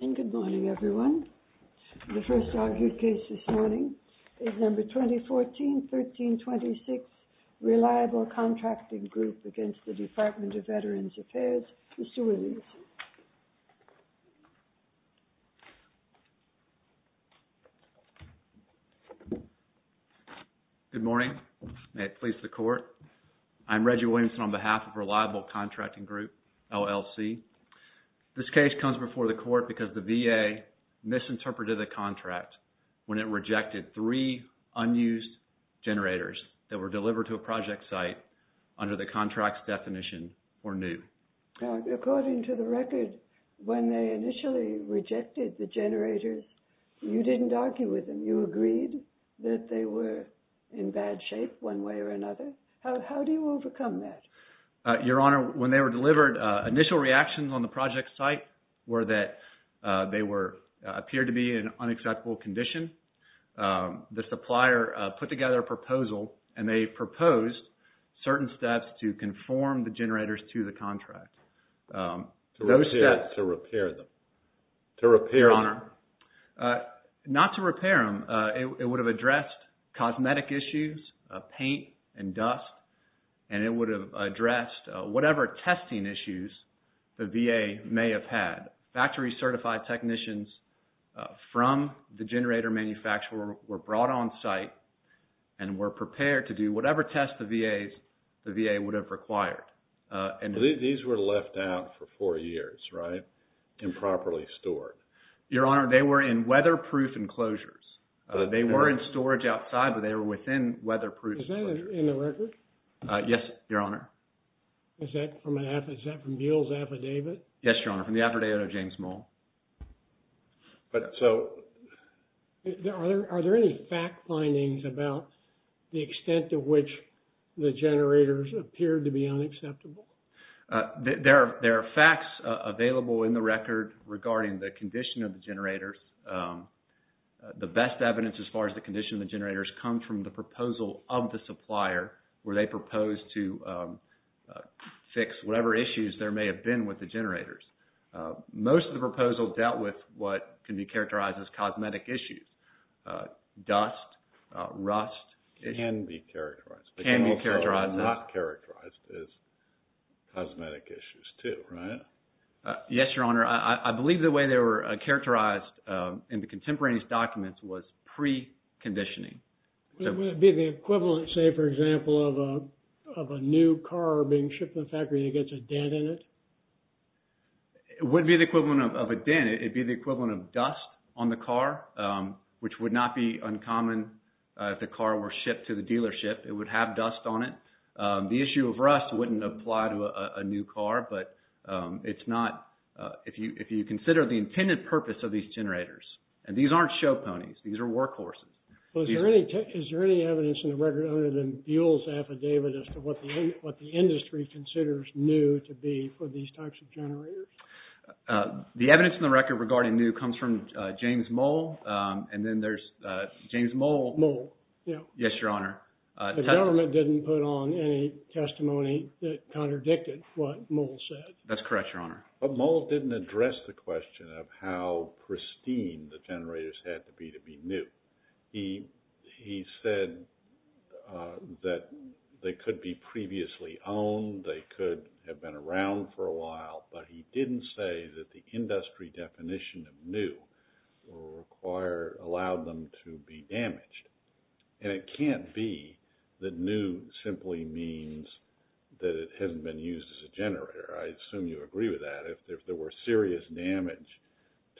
And good morning, everyone. The first argued case this morning is number 2014-1326, Reliable Contracting Group against the Department of Veterans Affairs, Mr. Williamson. Good morning. May it please the court, I'm Reggie Williamson on behalf of Reliable Contracting Group, LLC. This case comes before the court because the VA misinterpreted the contract when it rejected three unused generators that were delivered to a project site under the contract's definition were new. According to the record, when they initially rejected the generators, you didn't argue with them. You agreed that they were in bad shape one way or another. How do you overcome that? Your Honor, when they were delivered, initial reactions on the project site were that they appeared to be in an unacceptable condition. The supplier put together a proposal and they proposed certain steps to conform the generators to the contract. To repair them? Your Honor, not to repair them. It would have addressed cosmetic issues, paint and dust, and it would have addressed whatever testing issues the VA may have had. Factory certified technicians from the generator manufacturer were brought on site and were prepared to do whatever test the VA would have required. These were left out for four years, right? Improperly stored. Your Honor, they were in weatherproof enclosures. They were in storage outside, but they were within weatherproof enclosures. Is that in the record? Yes, Your Honor. Is that from Buell's affidavit? Yes, Your Honor, from the affidavit of James Moll. Are there any fact findings about the extent to which the generators appeared to be unacceptable? There are facts available in the record regarding the condition of the generators. The best evidence as far as the condition of the generators comes from the proposal of the supplier where they proposed to fix whatever issues there may have been with the generators. Most of the proposals dealt with what can be characterized as cosmetic issues. Dust, rust. It can be characterized. It can be characterized. It can also not be characterized as cosmetic issues too, right? Yes, Your Honor. I believe the way they were characterized in the contemporaneous documents was preconditioning. Would it be the equivalent, say, for example, of a new car being shipped to the factory that gets a dent in it? It wouldn't be the equivalent of a dent. It would be the equivalent of dust on the car, which would not be uncommon if the car were shipped to the dealership. It would have dust on it. The issue of rust wouldn't apply to a new car, but it's not... If you consider the intended purpose of these generators, and these aren't show ponies. These are workhorses. Is there any evidence in the record other than Buell's affidavit as to what the industry considers new to be for these types of generators? The evidence in the record regarding new comes from James Moll. And then there's James Moll. Moll, yeah. Yes, Your Honor. The government didn't put on any testimony that contradicted what Moll said. That's correct, Your Honor. But Moll didn't address the question of how pristine the generators had to be to be new. He said that they could be previously owned, they could have been around for a while, but he didn't say that the industry definition of new allowed them to be damaged. And it can't be that new simply means that it hasn't been used as a generator. I assume you agree with that. If there were serious damage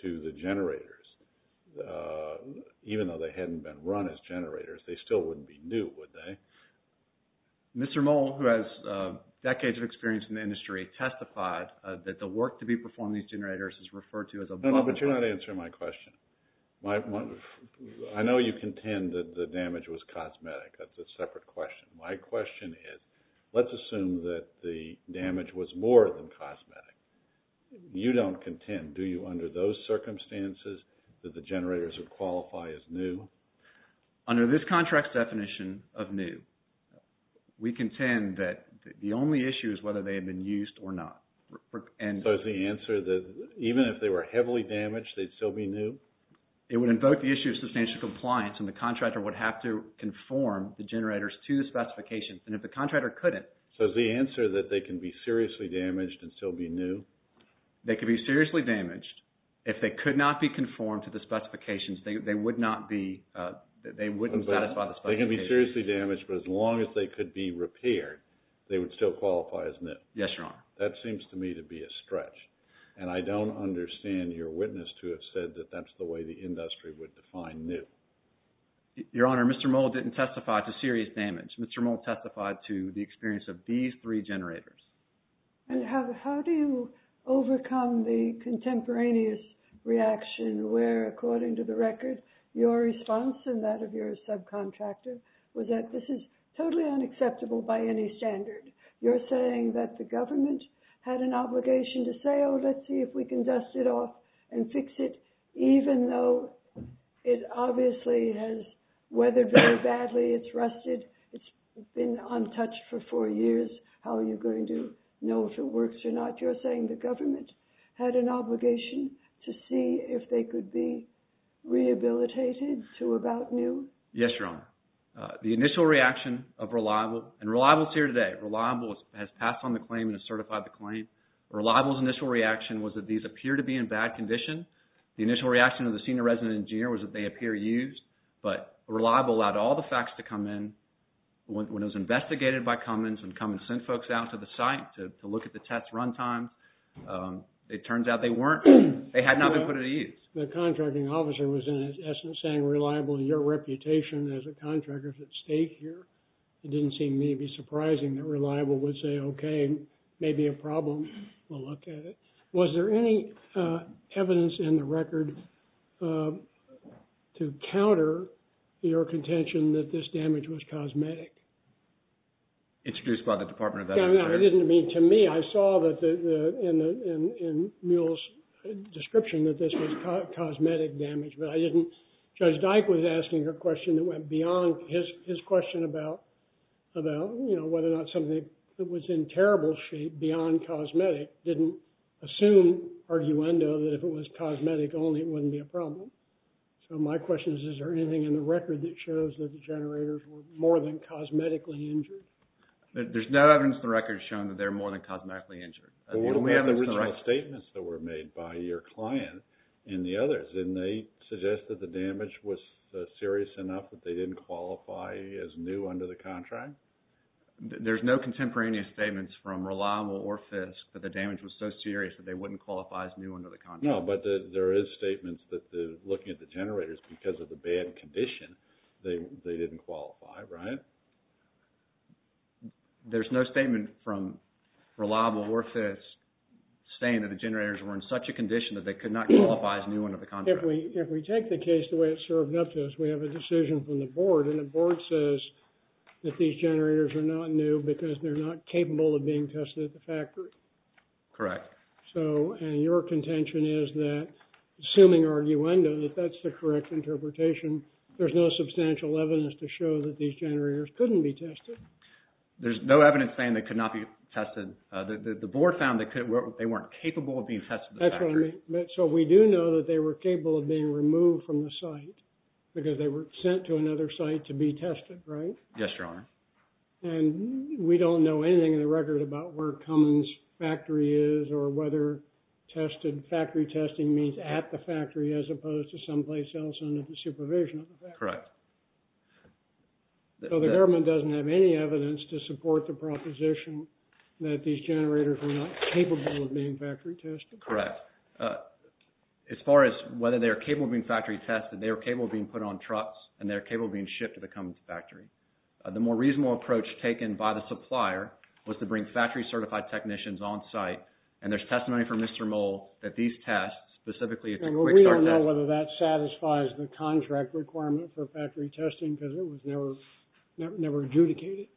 to the generators, even though they hadn't been run as generators, they still wouldn't be new, would they? Mr. Moll, who has decades of experience in the industry, testified that the work to be performed on these generators is referred to as a... No, no, but you're not answering my question. I know you contend that the damage was cosmetic. That's a separate question. My question is, let's assume that the damage was more than cosmetic. You don't contend, do you, under those circumstances, that the generators would qualify as new? Under this contract's definition of new, we contend that the only issue is whether they had been used or not. So is the answer that even if they were heavily damaged, they'd still be new? It would invoke the issue of substantial compliance, and the contractor would have to conform the generators to the specifications. And if the contractor couldn't... So is the answer that they can be seriously damaged and still be new? They could be seriously damaged. If they could not be conformed to the specifications, they wouldn't satisfy the specifications. They can be seriously damaged, but as long as they could be repaired, they would still qualify as new. Yes, Your Honor. That seems to me to be a stretch, and I don't understand your witness to have said that that's the way the industry would define new. Your Honor, Mr. Moll didn't testify to serious damage. Mr. Moll testified to the experience of these three generators. And how do you overcome the contemporaneous reaction where, according to the record, your response and that of your subcontractor was that this is totally unacceptable by any standard? You're saying that the government had an obligation to say, oh, let's see if we can dust it off and fix it, even though it obviously has weathered very badly. It's rusted. It's been untouched for four years. How are you going to know if it works or not? You're saying the government had an obligation to see if they could be rehabilitated to about new? Yes, Your Honor. The initial reaction of Reliable, and Reliable is here today. Reliable has passed on the claim and has certified the claim. Reliable's initial reaction was that these appear to be in bad condition. The initial reaction of the senior resident engineer was that they appear used. But Reliable allowed all the facts to come in. When it was investigated by Cummins and Cummins sent folks out to the site to look at the test run time, it turns out they weren't. They had not been put at ease. The contracting officer was, in essence, saying, Reliable, your reputation as a contractor is at stake here. It didn't seem to me to be surprising that Reliable would say, okay, maybe a problem. We'll look at it. Was there any evidence in the record to counter your contention that this damage was cosmetic? Introduced by the Department of Veterans Affairs? To me, I saw that in Muell's description that this was cosmetic damage, but I didn't. Judge Dyke was asking a question that went beyond his question about, you know, whether or not something that was in terrible shape, beyond cosmetic, didn't assume arguendo that if it was cosmetic only, it wouldn't be a problem. So my question is, is there anything in the record that shows that the generators were more than cosmetically injured? There's no evidence in the record showing that they were more than cosmetically injured. Well, what about the original statements that were made by your client and the others? Didn't they suggest that the damage was serious enough that they didn't qualify as new under the contract? There's no contemporaneous statements from Reliable or Fisk that the damage was so serious that they wouldn't qualify as new under the contract. No, but there is statements that looking at the generators because of the bad condition, they didn't qualify, right? There's no statement from Reliable or Fisk saying that the generators were in such a condition that they could not qualify as new under the contract. If we take the case the way it's served up to us, we have a decision from the board, and the board says that these generators are not new because they're not capable of being tested at the factory. Correct. So, and your contention is that, assuming arguendo, that that's the correct interpretation, there's no substantial evidence to show that these generators couldn't be tested. There's no evidence saying they could not be tested. The board found that they weren't capable of being tested at the factory. That's what I mean. So, we do know that they were capable of being removed from the site because they were sent to another site to be tested, right? Yes, Your Honor. And we don't know anything in the record about where Cummins factory is or whether factory testing means at the factory as opposed to someplace else under the supervision of the factory. Correct. So, the government doesn't have any evidence to support the proposition that these generators were not capable of being factory tested. Correct. As far as whether they were capable of being factory tested, they were capable of being put on trucks, and they were capable of being shipped to the Cummins factory. The more reasonable approach taken by the supplier was to bring factory certified technicians on site, and there's testimony from Mr. Moll that these tests, specifically the quick start tests… We don't know whether that satisfies the contract requirement for factory testing because it was never adjudicated.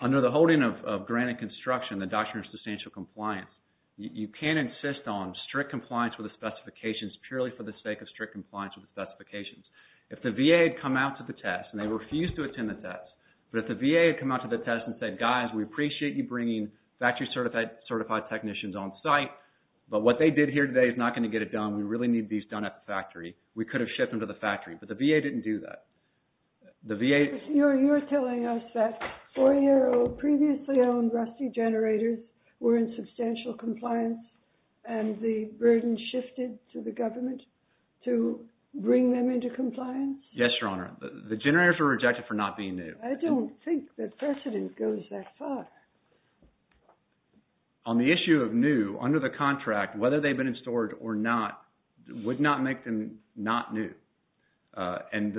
Under the holding of grant and construction, the doctrine of substantial compliance, you can't insist on strict compliance with the specifications purely for the sake of strict compliance with the specifications. If the VA had come out to the test, and they refused to attend the test, but if the VA had come out to the test and said, guys, we appreciate you bringing factory certified technicians on site, but what they did here today is not going to get it done. We really need these done at the factory. We could have shipped them to the factory, but the VA didn't do that. The VA… You're telling us that 4-year-old, previously owned, rusty generators were in substantial compliance, and the burden shifted to the government to bring them into compliance? Yes, Your Honor. The generators were rejected for not being new. I don't think the precedent goes that far. On the issue of new, under the contract, whether they've been in storage or not would not make them not new. And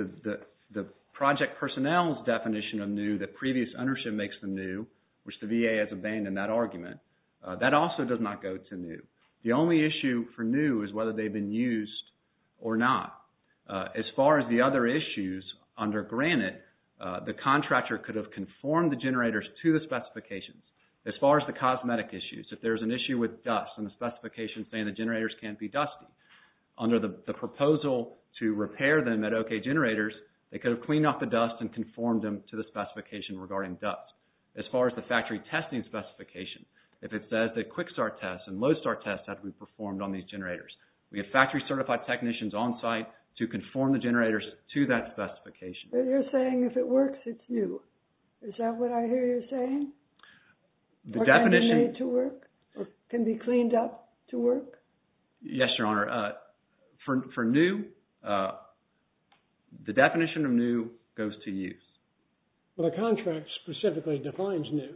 the project personnel's definition of new, that previous ownership makes them new, which the VA has abandoned that argument, that also does not go to new. The only issue for new is whether they've been used or not. As far as the other issues, under Granite, the contractor could have conformed the generators to the specifications. As far as the cosmetic issues, if there's an issue with dust and the specifications say the generators can't be dusty, under the proposal to repair them at OK Generators, they could have cleaned off the dust and conformed them to the specification regarding dust. As far as the factory testing specification, if it says that quick start tests and low start tests have to be performed on these generators. We have factory certified technicians on site to conform the generators to that specification. But you're saying if it works, it's new. Is that what I hear you saying? The definition... Can they be made to work? Can they be cleaned up to work? Yes, Your Honor. For new, the definition of new goes to use. But a contract specifically defines new.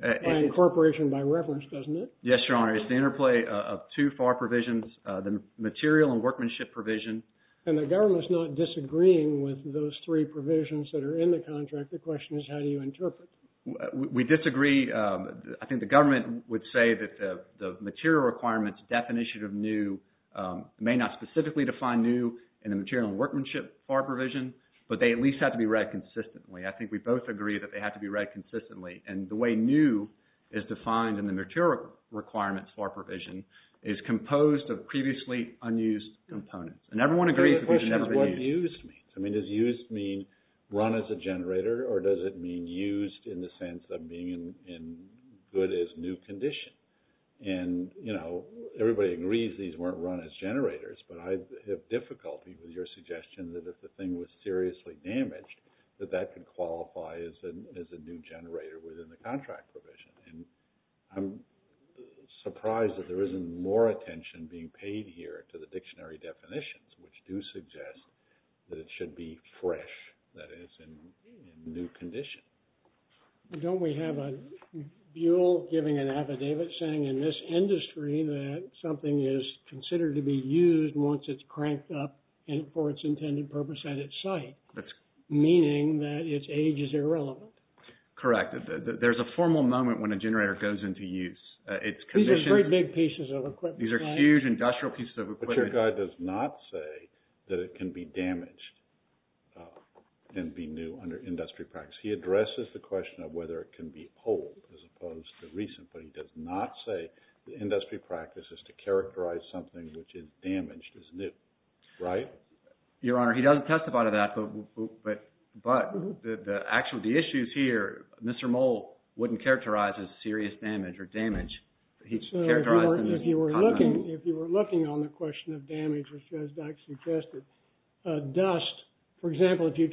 By incorporation, by reference, doesn't it? Yes, Your Honor. It's the interplay of two FAR provisions, the material and workmanship provision. And the government's not disagreeing with those three provisions that are in the contract. The question is how do you interpret? We disagree. I think the government would say that the material requirements definition of new may not specifically define new in the material and workmanship FAR provision, but they at least have to be read consistently. I think we both agree that they have to be read consistently. And the way new is defined in the material requirements FAR provision is composed of previously unused components. And everyone agrees that they should never be used. The question is what used means. I mean, does used mean run as a generator, or does it mean used in the sense of being in good as new condition? And, you know, everybody agrees these weren't run as generators, but I have difficulty with your suggestion that if the thing was seriously damaged, that that could qualify as a new generator within the contract provision. And I'm surprised that there isn't more attention being paid here to the dictionary definitions, which do suggest that it should be fresh that is in new condition. Don't we have a Buol giving an affidavit saying in this industry that something is considered to be used once it's cranked up and for its intended purpose at its site. Meaning that its age is irrelevant. Correct. There's a formal moment when a generator goes into use. These are very big pieces of equipment. These are huge industrial pieces of equipment. But your guy does not say that it can be damaged and be new under industry practice. He addresses the question of whether it can be old as opposed to recent, but he does not say the industry practice is to characterize something which is damaged as new. Right? Your Honor, he doesn't testify to that. But the actual, the issues here, Mr. Moll wouldn't characterize as serious damage or damage. He'd characterize them as common. If you were looking on the question of damage, which as Doug suggested, dust, for example, if you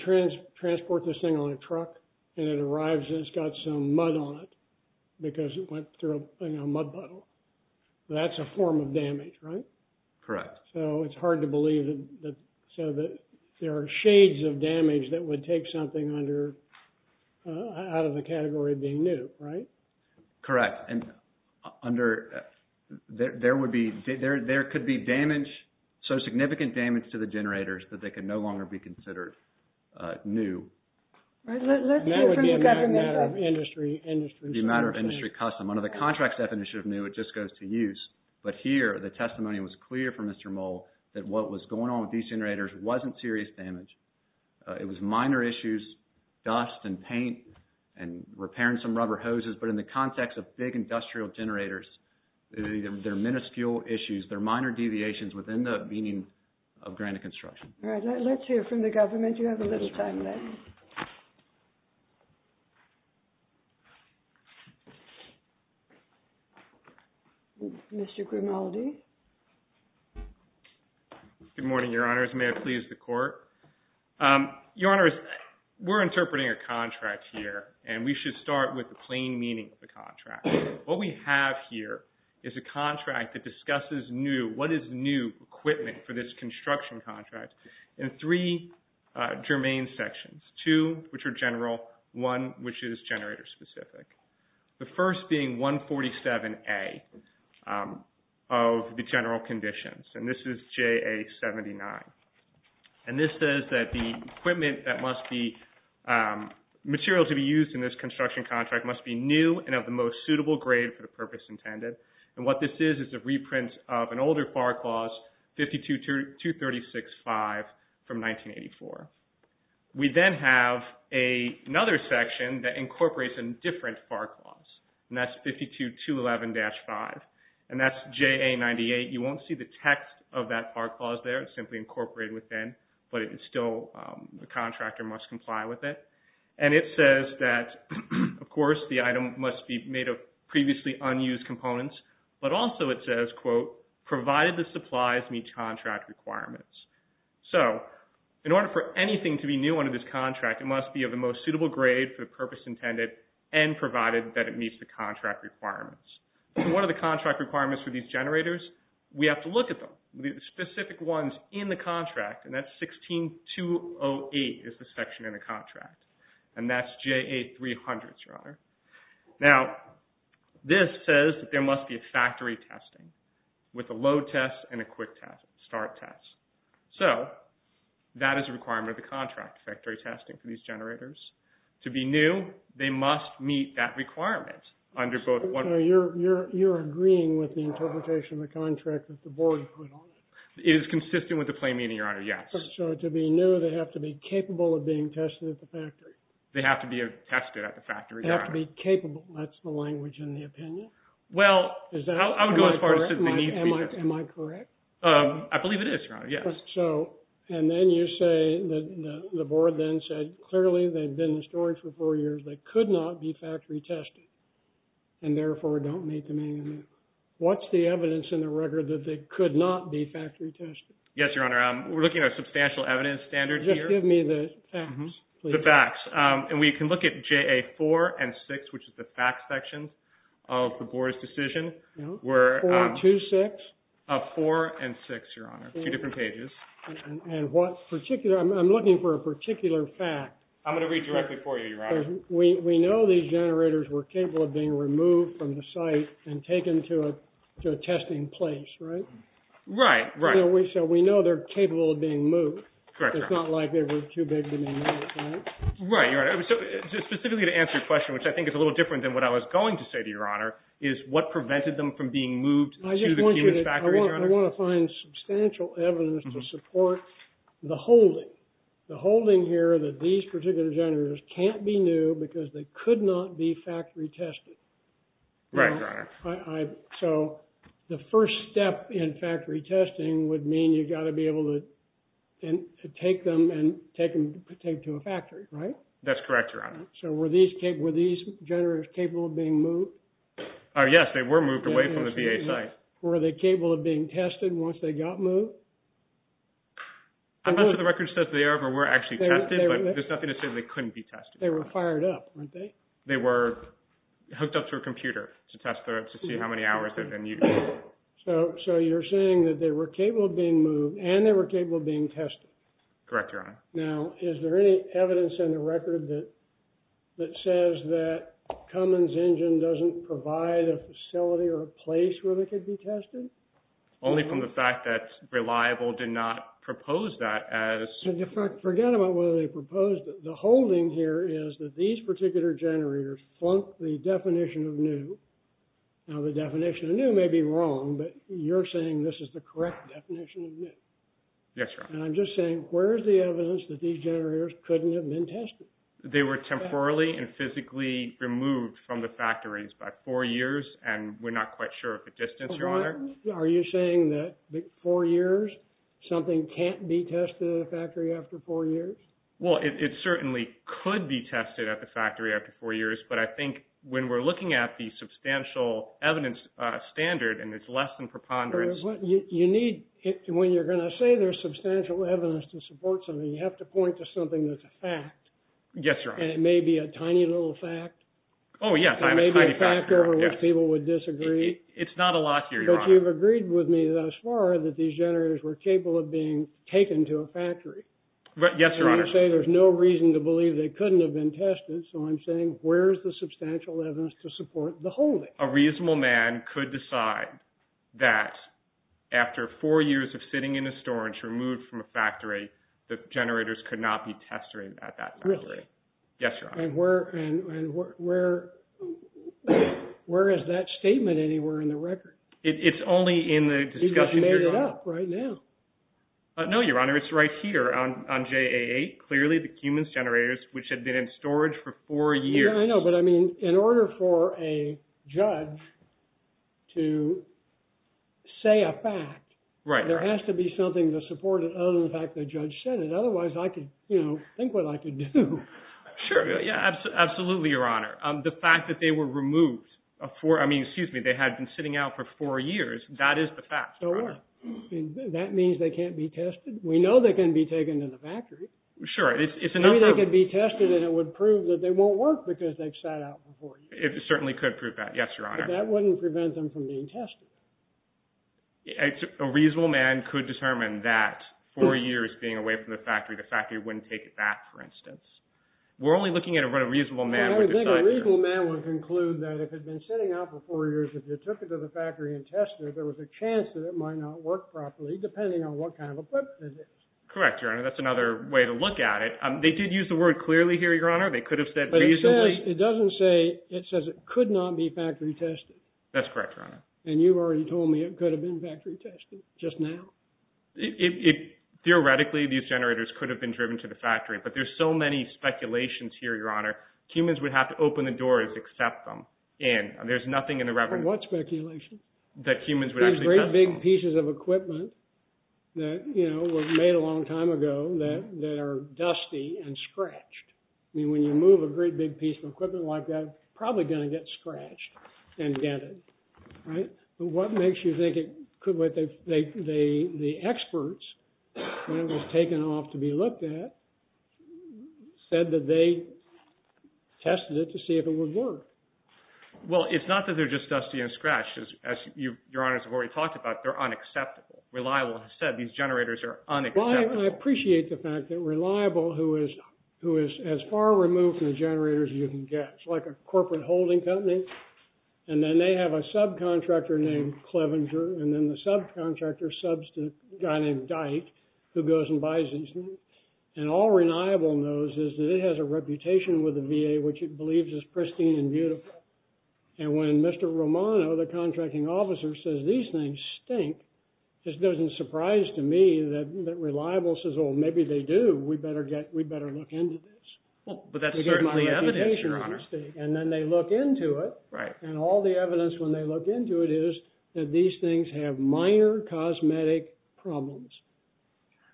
transport this thing on a truck and it arrives and it's got some mud on it because it went through a mud puddle, that's a form of damage, right? Correct. So it's hard to believe that there are shades of damage that would take something out of the category of being new, right? Correct. And there could be damage, so significant damage to the generators that they could no longer be considered new. That would be a matter of industry custom. Under the contracts definition of new, it just goes to use. But here, the testimony was clear from Mr. Moll that what was going on with these generators wasn't serious damage. It was minor issues, dust and paint and repairing some rubber hoses. But in the context of big industrial generators, they're minuscule issues. They're minor deviations within the meaning of granite construction. All right. Let's hear from the government. You have a little time left. Mr. Grimaldi. Good morning, Your Honors. May it please the Court. Your Honors, we're interpreting a contract here, and we should start with the plain meaning of the contract. What we have here is a contract that discusses new, what is new equipment for this construction contract, in three germane sections, two which are general, one which is generator specific. The first being 147A of the general conditions. And this is JA79. And this says that the equipment that must be material to be used in this construction contract must be new and of the most suitable grade for the purpose intended. And what this is is a reprint of an older FAR clause, 52-236-5 from 1984. We then have another section that incorporates a different FAR clause, and that's 52-211-5. And that's JA98. You won't see the text of that FAR clause there. It's simply incorporated within, but it's still, the contractor must comply with it. And it says that, of course, the item must be made of previously unused components, but also it says, quote, provided the supplies meet contract requirements. So in order for anything to be new under this contract, it must be of the most suitable grade for the purpose intended and provided that it meets the contract requirements. And what are the contract requirements for these generators? We have to look at them, the specific ones in the contract, and that's 16-208 is the section in the contract. And that's JA300, Your Honor. Now, this says that there must be a factory testing with a load test and a quick test, start test. So that is a requirement of the contract, factory testing for these generators. To be new, they must meet that requirement under both. You're agreeing with the interpretation of the contract that the board put on it? It is consistent with the plain meaning, Your Honor, yes. So to be new, they have to be capable of being tested at the factory? They have to be tested at the factory, Your Honor. They have to be capable. That's the language in the opinion? Well, I would go as far as to say they need to be tested. Am I correct? I believe it is, Your Honor, yes. And then you say that the board then said, clearly they've been in storage for four years. They could not be factory tested and, therefore, don't meet the meaning. What's the evidence in the record that they could not be factory tested? Yes, Your Honor. We're looking at a substantial evidence standard here. Just give me the facts, please. The facts. And we can look at JA4 and 6, which is the facts section of the board's decision. 4 and 2, 6? 4 and 6, Your Honor, two different pages. And what particular – I'm looking for a particular fact. I'm going to read directly for you, Your Honor. We know these generators were capable of being removed from the site and taken to a testing place, right? Right, right. So we know they're capable of being moved. Correct, Your Honor. It's not like they were too big to be moved, right? Right, Your Honor. So specifically to answer your question, which I think is a little different than what I was going to say to Your Honor, is what prevented them from being moved to the Keenan's factory, Your Honor? I want to find substantial evidence to support the holding, the holding here that these particular generators can't be new because they could not be factory tested. Right, Your Honor. So the first step in factory testing would mean you've got to be able to take them and take them to a factory, right? That's correct, Your Honor. So were these generators capable of being moved? Yes, they were moved away from the VA site. Were they capable of being tested once they got moved? I'm not sure the record says they ever were actually tested, but there's nothing to say they couldn't be tested. They were fired up, weren't they? They were hooked up to a computer to test to see how many hours they had been used. So you're saying that they were capable of being moved and they were capable of being tested? Correct, Your Honor. Now, is there any evidence in the record that says that Cummins Engine doesn't provide a facility or a place where they could be tested? Only from the fact that Reliable did not propose that as— Forget about whether they proposed it. The holding here is that these particular generators flunk the definition of new. Now, the definition of new may be wrong, but you're saying this is the correct definition of new. Yes, Your Honor. And I'm just saying where is the evidence that these generators couldn't have been tested? They were temporarily and physically removed from the factories by four years, and we're not quite sure of the distance, Your Honor. Are you saying that four years, something can't be tested in a factory after four years? Well, it certainly could be tested at the factory after four years, but I think when we're looking at the substantial evidence standard, and it's less than preponderance— You need, when you're going to say there's substantial evidence to support something, you have to point to something that's a fact. Yes, Your Honor. And it may be a tiny little fact. Oh, yes. Or maybe a fact over which people would disagree. It's not a lot here, Your Honor. But you've agreed with me thus far that these generators were capable of being taken to a factory. Yes, Your Honor. And you say there's no reason to believe they couldn't have been tested, so I'm saying where is the substantial evidence to support the holding? A reasonable man could decide that after four years of sitting in a storage removed from a factory, the generators could not be tested at that factory. Really? Yes, Your Honor. And where is that statement anywhere in the record? It's only in the discussion— You just made it up right now. No, Your Honor. It's right here on JA8. Clearly, the Cummins generators, which had been in storage for four years— I know, but I mean, in order for a judge to say a fact, there has to be something to support it other than the fact the judge said it. Otherwise, I could, you know, think what I could do. Sure. Yeah, absolutely, Your Honor. The fact that they were removed for— I mean, excuse me, they had been sitting out for four years. That is the fact, Your Honor. That means they can't be tested. We know they can be taken to the factory. Sure. Maybe they could be tested and it would prove that they won't work because they've sat out before. It certainly could prove that, yes, Your Honor. But that wouldn't prevent them from being tested. A reasonable man could determine that four years being away from the factory, the factory wouldn't take it back, for instance. We're only looking at what a reasonable man would decide to do. I think a reasonable man would conclude that if it had been sitting out for four years, if you took it to the factory and tested it, there was a chance that it might not work properly, depending on what kind of equipment it is. Correct, Your Honor. That's another way to look at it. They did use the word clearly here, Your Honor. They could have said reasonably— But it says—it doesn't say—it says it could not be factory tested. That's correct, Your Honor. And you've already told me it could have been factory tested just now. Theoretically, these generators could have been driven to the factory, but there's so many speculations here, Your Honor. Humans would have to open the doors to accept them in. There's nothing in the— From what speculation? That humans would actually— These great big pieces of equipment that, you know, were made a long time ago that are dusty and scratched. I mean, when you move a great big piece of equipment like that, it's probably going to get scratched and dented, right? But what makes you think it could—the experts, when it was taken off to be looked at, said that they tested it to see if it would work. Well, it's not that they're just dusty and scratched. As Your Honor has already talked about, they're unacceptable. Reliable has said these generators are unacceptable. Well, I appreciate the fact that Reliable, who is as far removed from the generators as you can get, it's like a corporate holding company, and then they have a subcontractor named Clevenger, and then the subcontractor subs to a guy named Dyke, who goes and buys these things. And all Reliable knows is that it has a reputation with the VA, which it believes is pristine and beautiful. And when Mr. Romano, the contracting officer, says these things stink, it doesn't surprise to me that Reliable says, well, maybe they do, we better look into this. Well, but that's certainly evidence, Your Honor. And then they look into it. Right. And all the evidence when they look into it is that these things have minor cosmetic problems.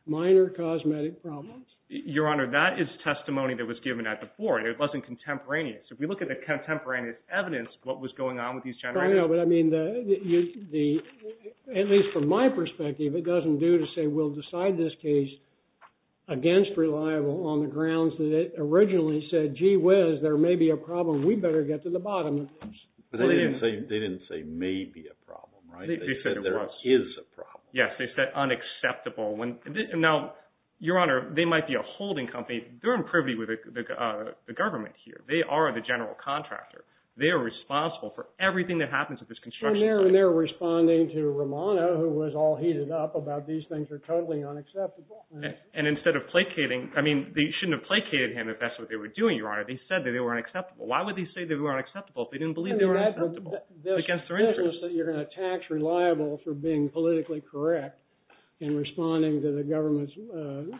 Minor cosmetic problems. Your Honor, that is testimony that was given at the board. It wasn't contemporaneous. If we look at the contemporaneous evidence of what was going on with these generators. I know, but I mean, at least from my perspective, it doesn't do to say we'll decide this case against Reliable on the grounds that it originally said, gee whiz, there may be a problem, we better get to the bottom of this. But they didn't say maybe a problem, right? They said there is a problem. Yes, they said unacceptable. Now, Your Honor, they might be a holding company. They're in privity with the government here. They are the general contractor. They are responsible for everything that happens at this construction site. And they're responding to Romano, who was all heated up about these things are totally unacceptable. And instead of placating, I mean, they shouldn't have placated him if that's what they were doing, Your Honor. They said that they were unacceptable. Why would they say they were unacceptable if they didn't believe they were unacceptable? I mean, that's the business that you're going to tax Reliable for being politically correct and responding to the government's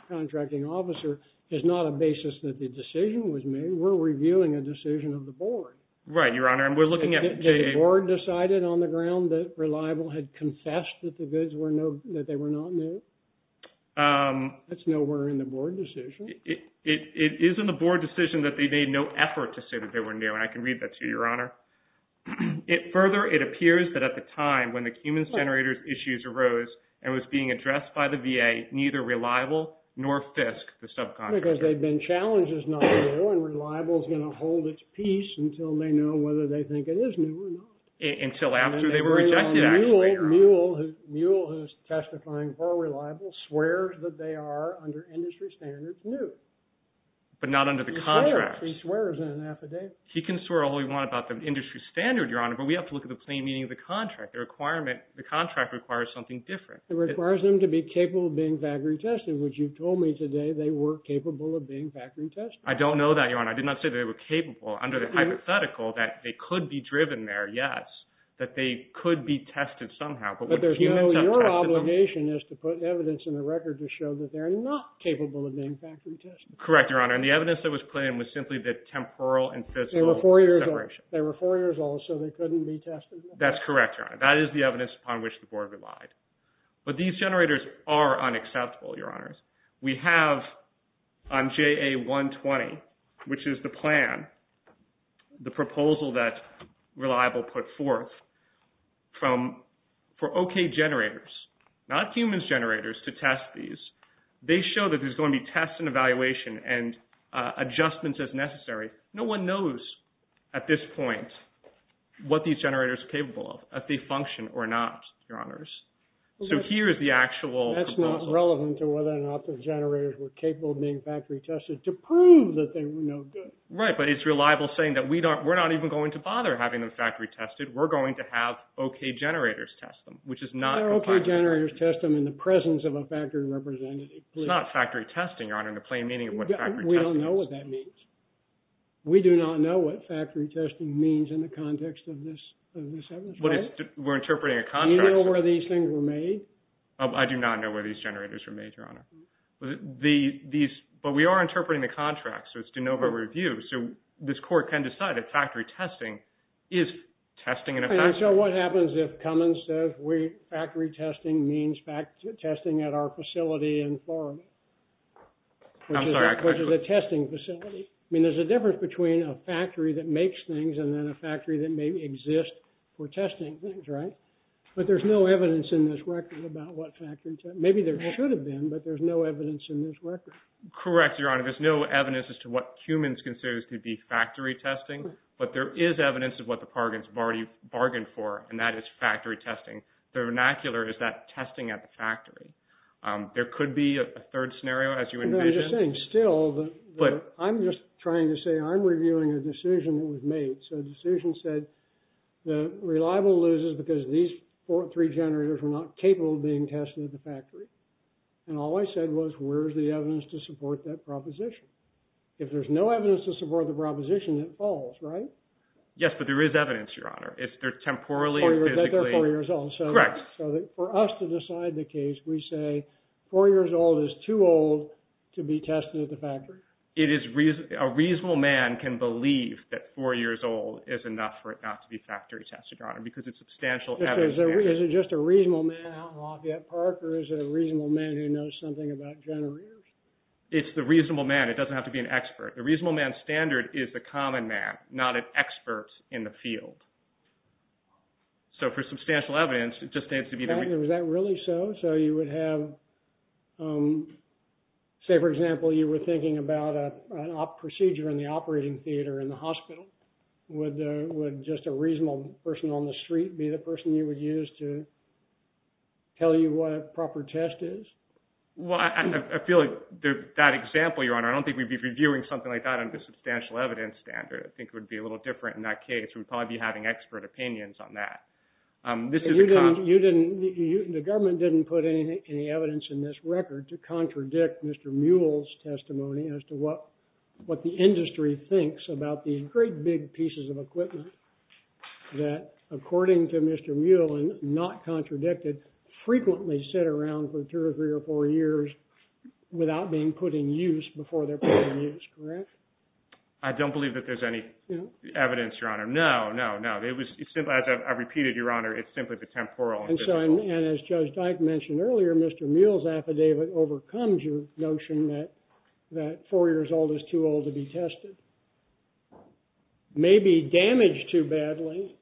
contracting officer is not a basis that the decision was made. We're reviewing a decision of the board. Right, Your Honor. Did the board decide it on the ground that Reliable had confessed that the goods were not new? That's nowhere in the board decision. It is in the board decision that they made no effort to say that they were new. And I can read that to you, Your Honor. Further, it appears that at the time when the cumens generators issues arose and was being addressed by the VA, neither Reliable nor Fisk, the subcontractor. Because they've been challenged as not new, and Reliable is going to hold its peace until they know whether they think it is new or not. Until after they were rejected, actually. Muell, who is testifying for Reliable, swears that they are, under industry standards, new. But not under the contracts. He swears in an affidavit. He can swear all he wants about the industry standard, Your Honor, but we have to look at the plain meaning of the contract. The contract requires something different. It requires them to be capable of being factory tested, which you told me today they were capable of being factory tested. I don't know that, Your Honor. I did not say they were capable. Under the hypothetical, that they could be driven there, yes. That they could be tested somehow. But there's no – your obligation is to put evidence in the record to show that they're not capable of being factory tested. Correct, Your Honor. And the evidence that was put in was simply the temporal and physical separation. They were four years old, so they couldn't be tested? That's correct, Your Honor. That is the evidence upon which the board relied. But these generators are unacceptable, Your Honors. We have on JA120, which is the plan, the proposal that Reliable put forth, for OK generators, not humans generators, to test these. They show that there's going to be tests and evaluation and adjustments as necessary. No one knows at this point what these generators are capable of, if they function or not, Your Honors. So here is the actual proposal. That's not relevant to whether or not the generators were capable of being factory tested to prove that they were no good. Right, but it's Reliable saying that we're not even going to bother having them factory tested. We're going to have OK generators test them, which is not – Factory generators test them in the presence of a factory representative. It's not factory testing, Your Honor, in the plain meaning of what factory testing is. We don't know what that means. We do not know what factory testing means in the context of this evidence, right? We're interpreting a contract – Do you know where these things were made? I do not know where these generators were made, Your Honor. But we are interpreting the contract, so it's de novo review. So this court can decide that factory testing is testing in effect. And so what happens if Cummins says factory testing means testing at our facility in Florida, which is a testing facility? I mean, there's a difference between a factory that makes things and then a factory that maybe exists for testing things, right? But there's no evidence in this record about what factory – maybe there should have been, but there's no evidence in this record. Correct, Your Honor. There's no evidence as to what Cummins considers to be factory testing, but there is evidence of what the bargains have already bargained for, and that is factory testing. The vernacular is that testing at the factory. There could be a third scenario, as you envision. No, I'm just saying still that I'm just trying to say I'm reviewing a decision that was made. So the decision said the reliable loses because these three generators were not capable of being tested at the factory. And all I said was where's the evidence to support that proposition? If there's no evidence to support the proposition, it falls, right? Yes, but there is evidence, Your Honor. If they're temporally or physically – That they're four years old. Correct. So for us to decide the case, we say four years old is too old to be tested at the factory. It is – a reasonable man can believe that four years old is enough for it not to be factory tested, Your Honor, because it's substantial evidence. Is it just a reasonable man out in Lafayette Park, or is it a reasonable man who knows something about generators? It's the reasonable man. It doesn't have to be an expert. The reasonable man standard is the common man, not an expert in the field. So for substantial evidence, it just needs to be the – Was that really so? So you would have – say, for example, you were thinking about a procedure in the operating theater in the hospital. Would just a reasonable person on the street be the person you would use to tell you what a proper test is? Well, I feel like that example, Your Honor, I don't think we'd be reviewing something like that under a substantial evidence standard. I think it would be a little different in that case. We'd probably be having expert opinions on that. This is a – You didn't – the government didn't put any evidence in this record to contradict Mr. Muell's testimony as to what the industry thinks about these great big pieces of equipment that, according to Mr. Muell and not contradicted, frequently sit around for two or three or four years without being put in use before they're put in use. Correct? I don't believe that there's any evidence, Your Honor. No, no, no. It was – as I've repeated, Your Honor, it's simply the temporal and physical. And as Judge Dyke mentioned earlier, Mr. Muell's affidavit overcomes your notion that four years old is too old to be tested. Maybe damaged too badly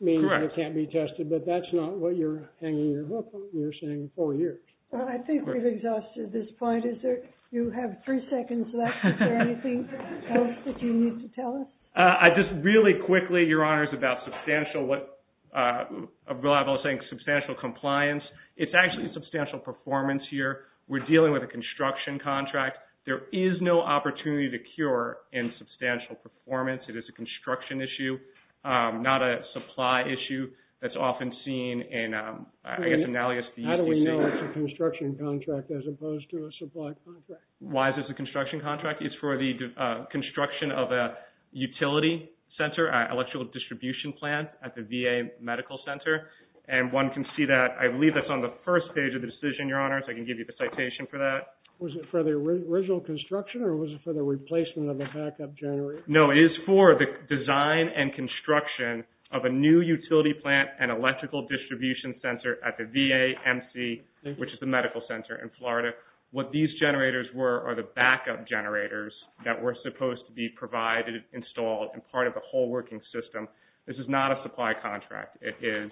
means that it can't be tested. Correct. But that's not what you're hanging your hook on. You're saying four years. Well, I think we've exhausted this point. Is there – you have three seconds left. Is there anything else that you need to tell us? I just – really quickly, Your Honor, it's about substantial what – what I was saying, substantial compliance. It's actually a substantial performance here. We're dealing with a construction contract. There is no opportunity to cure insubstantial performance. It is a construction issue, not a supply issue that's often seen in, I guess, analogous to using – How do we know it's a construction contract as opposed to a supply contract? Why is this a construction contract? It's for the construction of a utility center, electrical distribution plant at the VA Medical Center. And one can see that – I believe that's on the first page of the decision, Your Honor, so I can give you the citation for that. Was it for the original construction or was it for the replacement of the backup generator? No, it is for the design and construction of a new utility plant and electrical distribution center at the VA MC, which is the medical center in Florida. What these generators were are the backup generators that were supposed to be provided, installed, and part of the whole working system. This is not a supply contract. It is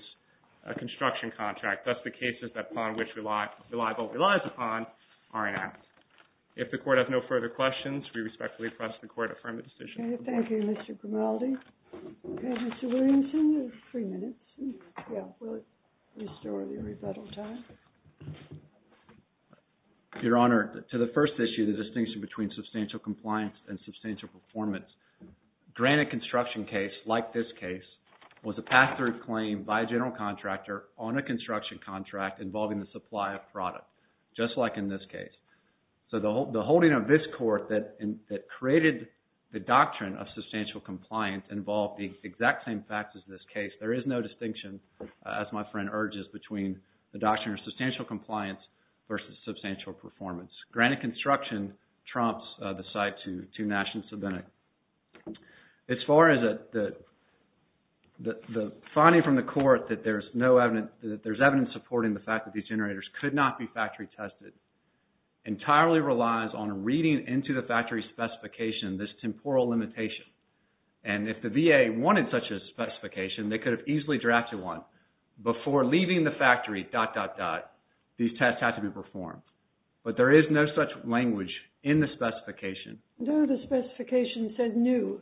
a construction contract. That's the cases upon which reliable relies upon are enacted. If the Court has no further questions, we respectfully press the Court to affirm the decision. Okay, thank you, Mr. Grimaldi. Okay, Mr. Williamson, you have three minutes. Yeah, we'll restore the rebuttal time. Your Honor, to the first issue, the distinction between substantial compliance and substantial performance, granted construction case like this case was a pass-through claim by a general contractor on a construction contract involving the supply of product, just like in this case. So the holding of this Court that created the doctrine of substantial compliance involved the exact same facts as this case. There is no distinction, as my friend urges, between the doctrine of substantial compliance versus substantial performance. Granted construction trumps the site to national subpoena. As far as the finding from the Court that there's evidence supporting the fact that these generators could not be factory tested, entirely relies on reading into the factory specification this temporal limitation. And if the VA wanted such a specification, they could have easily drafted one. Before leaving the factory, dot, dot, dot, these tests had to be performed. But there is no such language in the specification. No, the specification said new.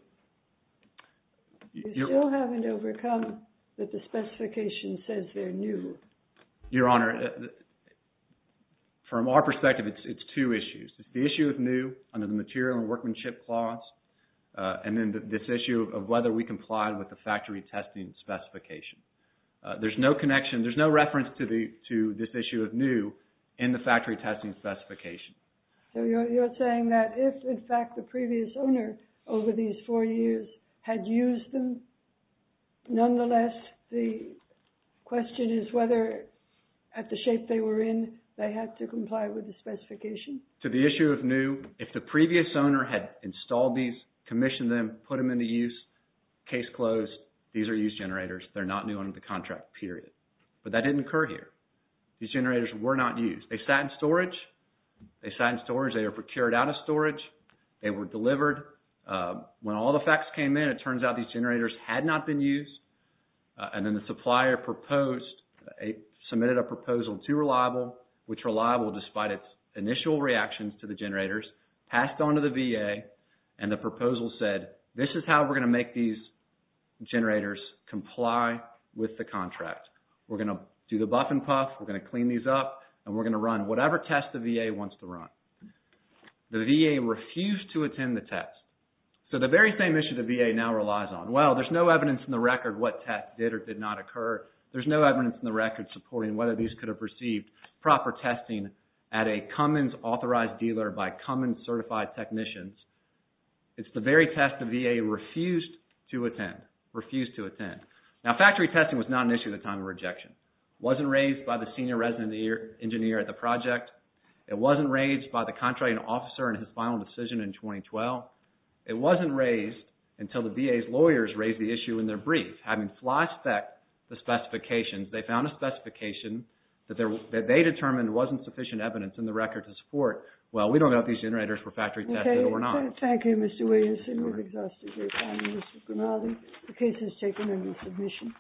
You still haven't overcome that the specification says they're new. Your Honor, from our perspective, it's two issues. The issue of new under the material and workmanship clause, and then this issue of whether we complied with the factory testing specification. There's no connection. There's no reference to this issue of new in the factory testing specification. So you're saying that if, in fact, the previous owner over these four years had used them, nonetheless, the question is whether, at the shape they were in, they had to comply with the specification? To the issue of new, if the previous owner had installed these, commissioned them, put them into use, case closed, these are used generators. They're not new under the contract, period. But that didn't occur here. These generators were not used. They sat in storage. They sat in storage. They were procured out of storage. They were delivered. When all the facts came in, it turns out these generators had not been used, and then the supplier proposed, submitted a proposal to Reliable, which Reliable, despite its initial reactions to the generators, passed on to the VA, and the proposal said, this is how we're going to make these generators comply with the contract. We're going to do the buff and puff. We're going to clean these up, and we're going to run whatever test the VA wants to run. The VA refused to attend the test. So the very same issue the VA now relies on. Well, there's no evidence in the record what test did or did not occur. There's no evidence in the record supporting whether these could have received proper testing at a Cummins-authorized dealer by Cummins-certified technicians. It's the very test the VA refused to attend, refused to attend. Now, factory testing was not an issue at the time of rejection. It wasn't raised by the senior resident engineer at the project. It wasn't raised by the contracting officer in his final decision in 2012. It wasn't raised until the VA's lawyers raised the issue in their brief. Having flashed back the specifications, they found a specification that they determined wasn't sufficient evidence in the record to support, well, we don't know if these generators were factory tested or not. Thank you, Mr. Williamson. We've exhausted your time, Mr. Grimaldi. The case has taken under submission.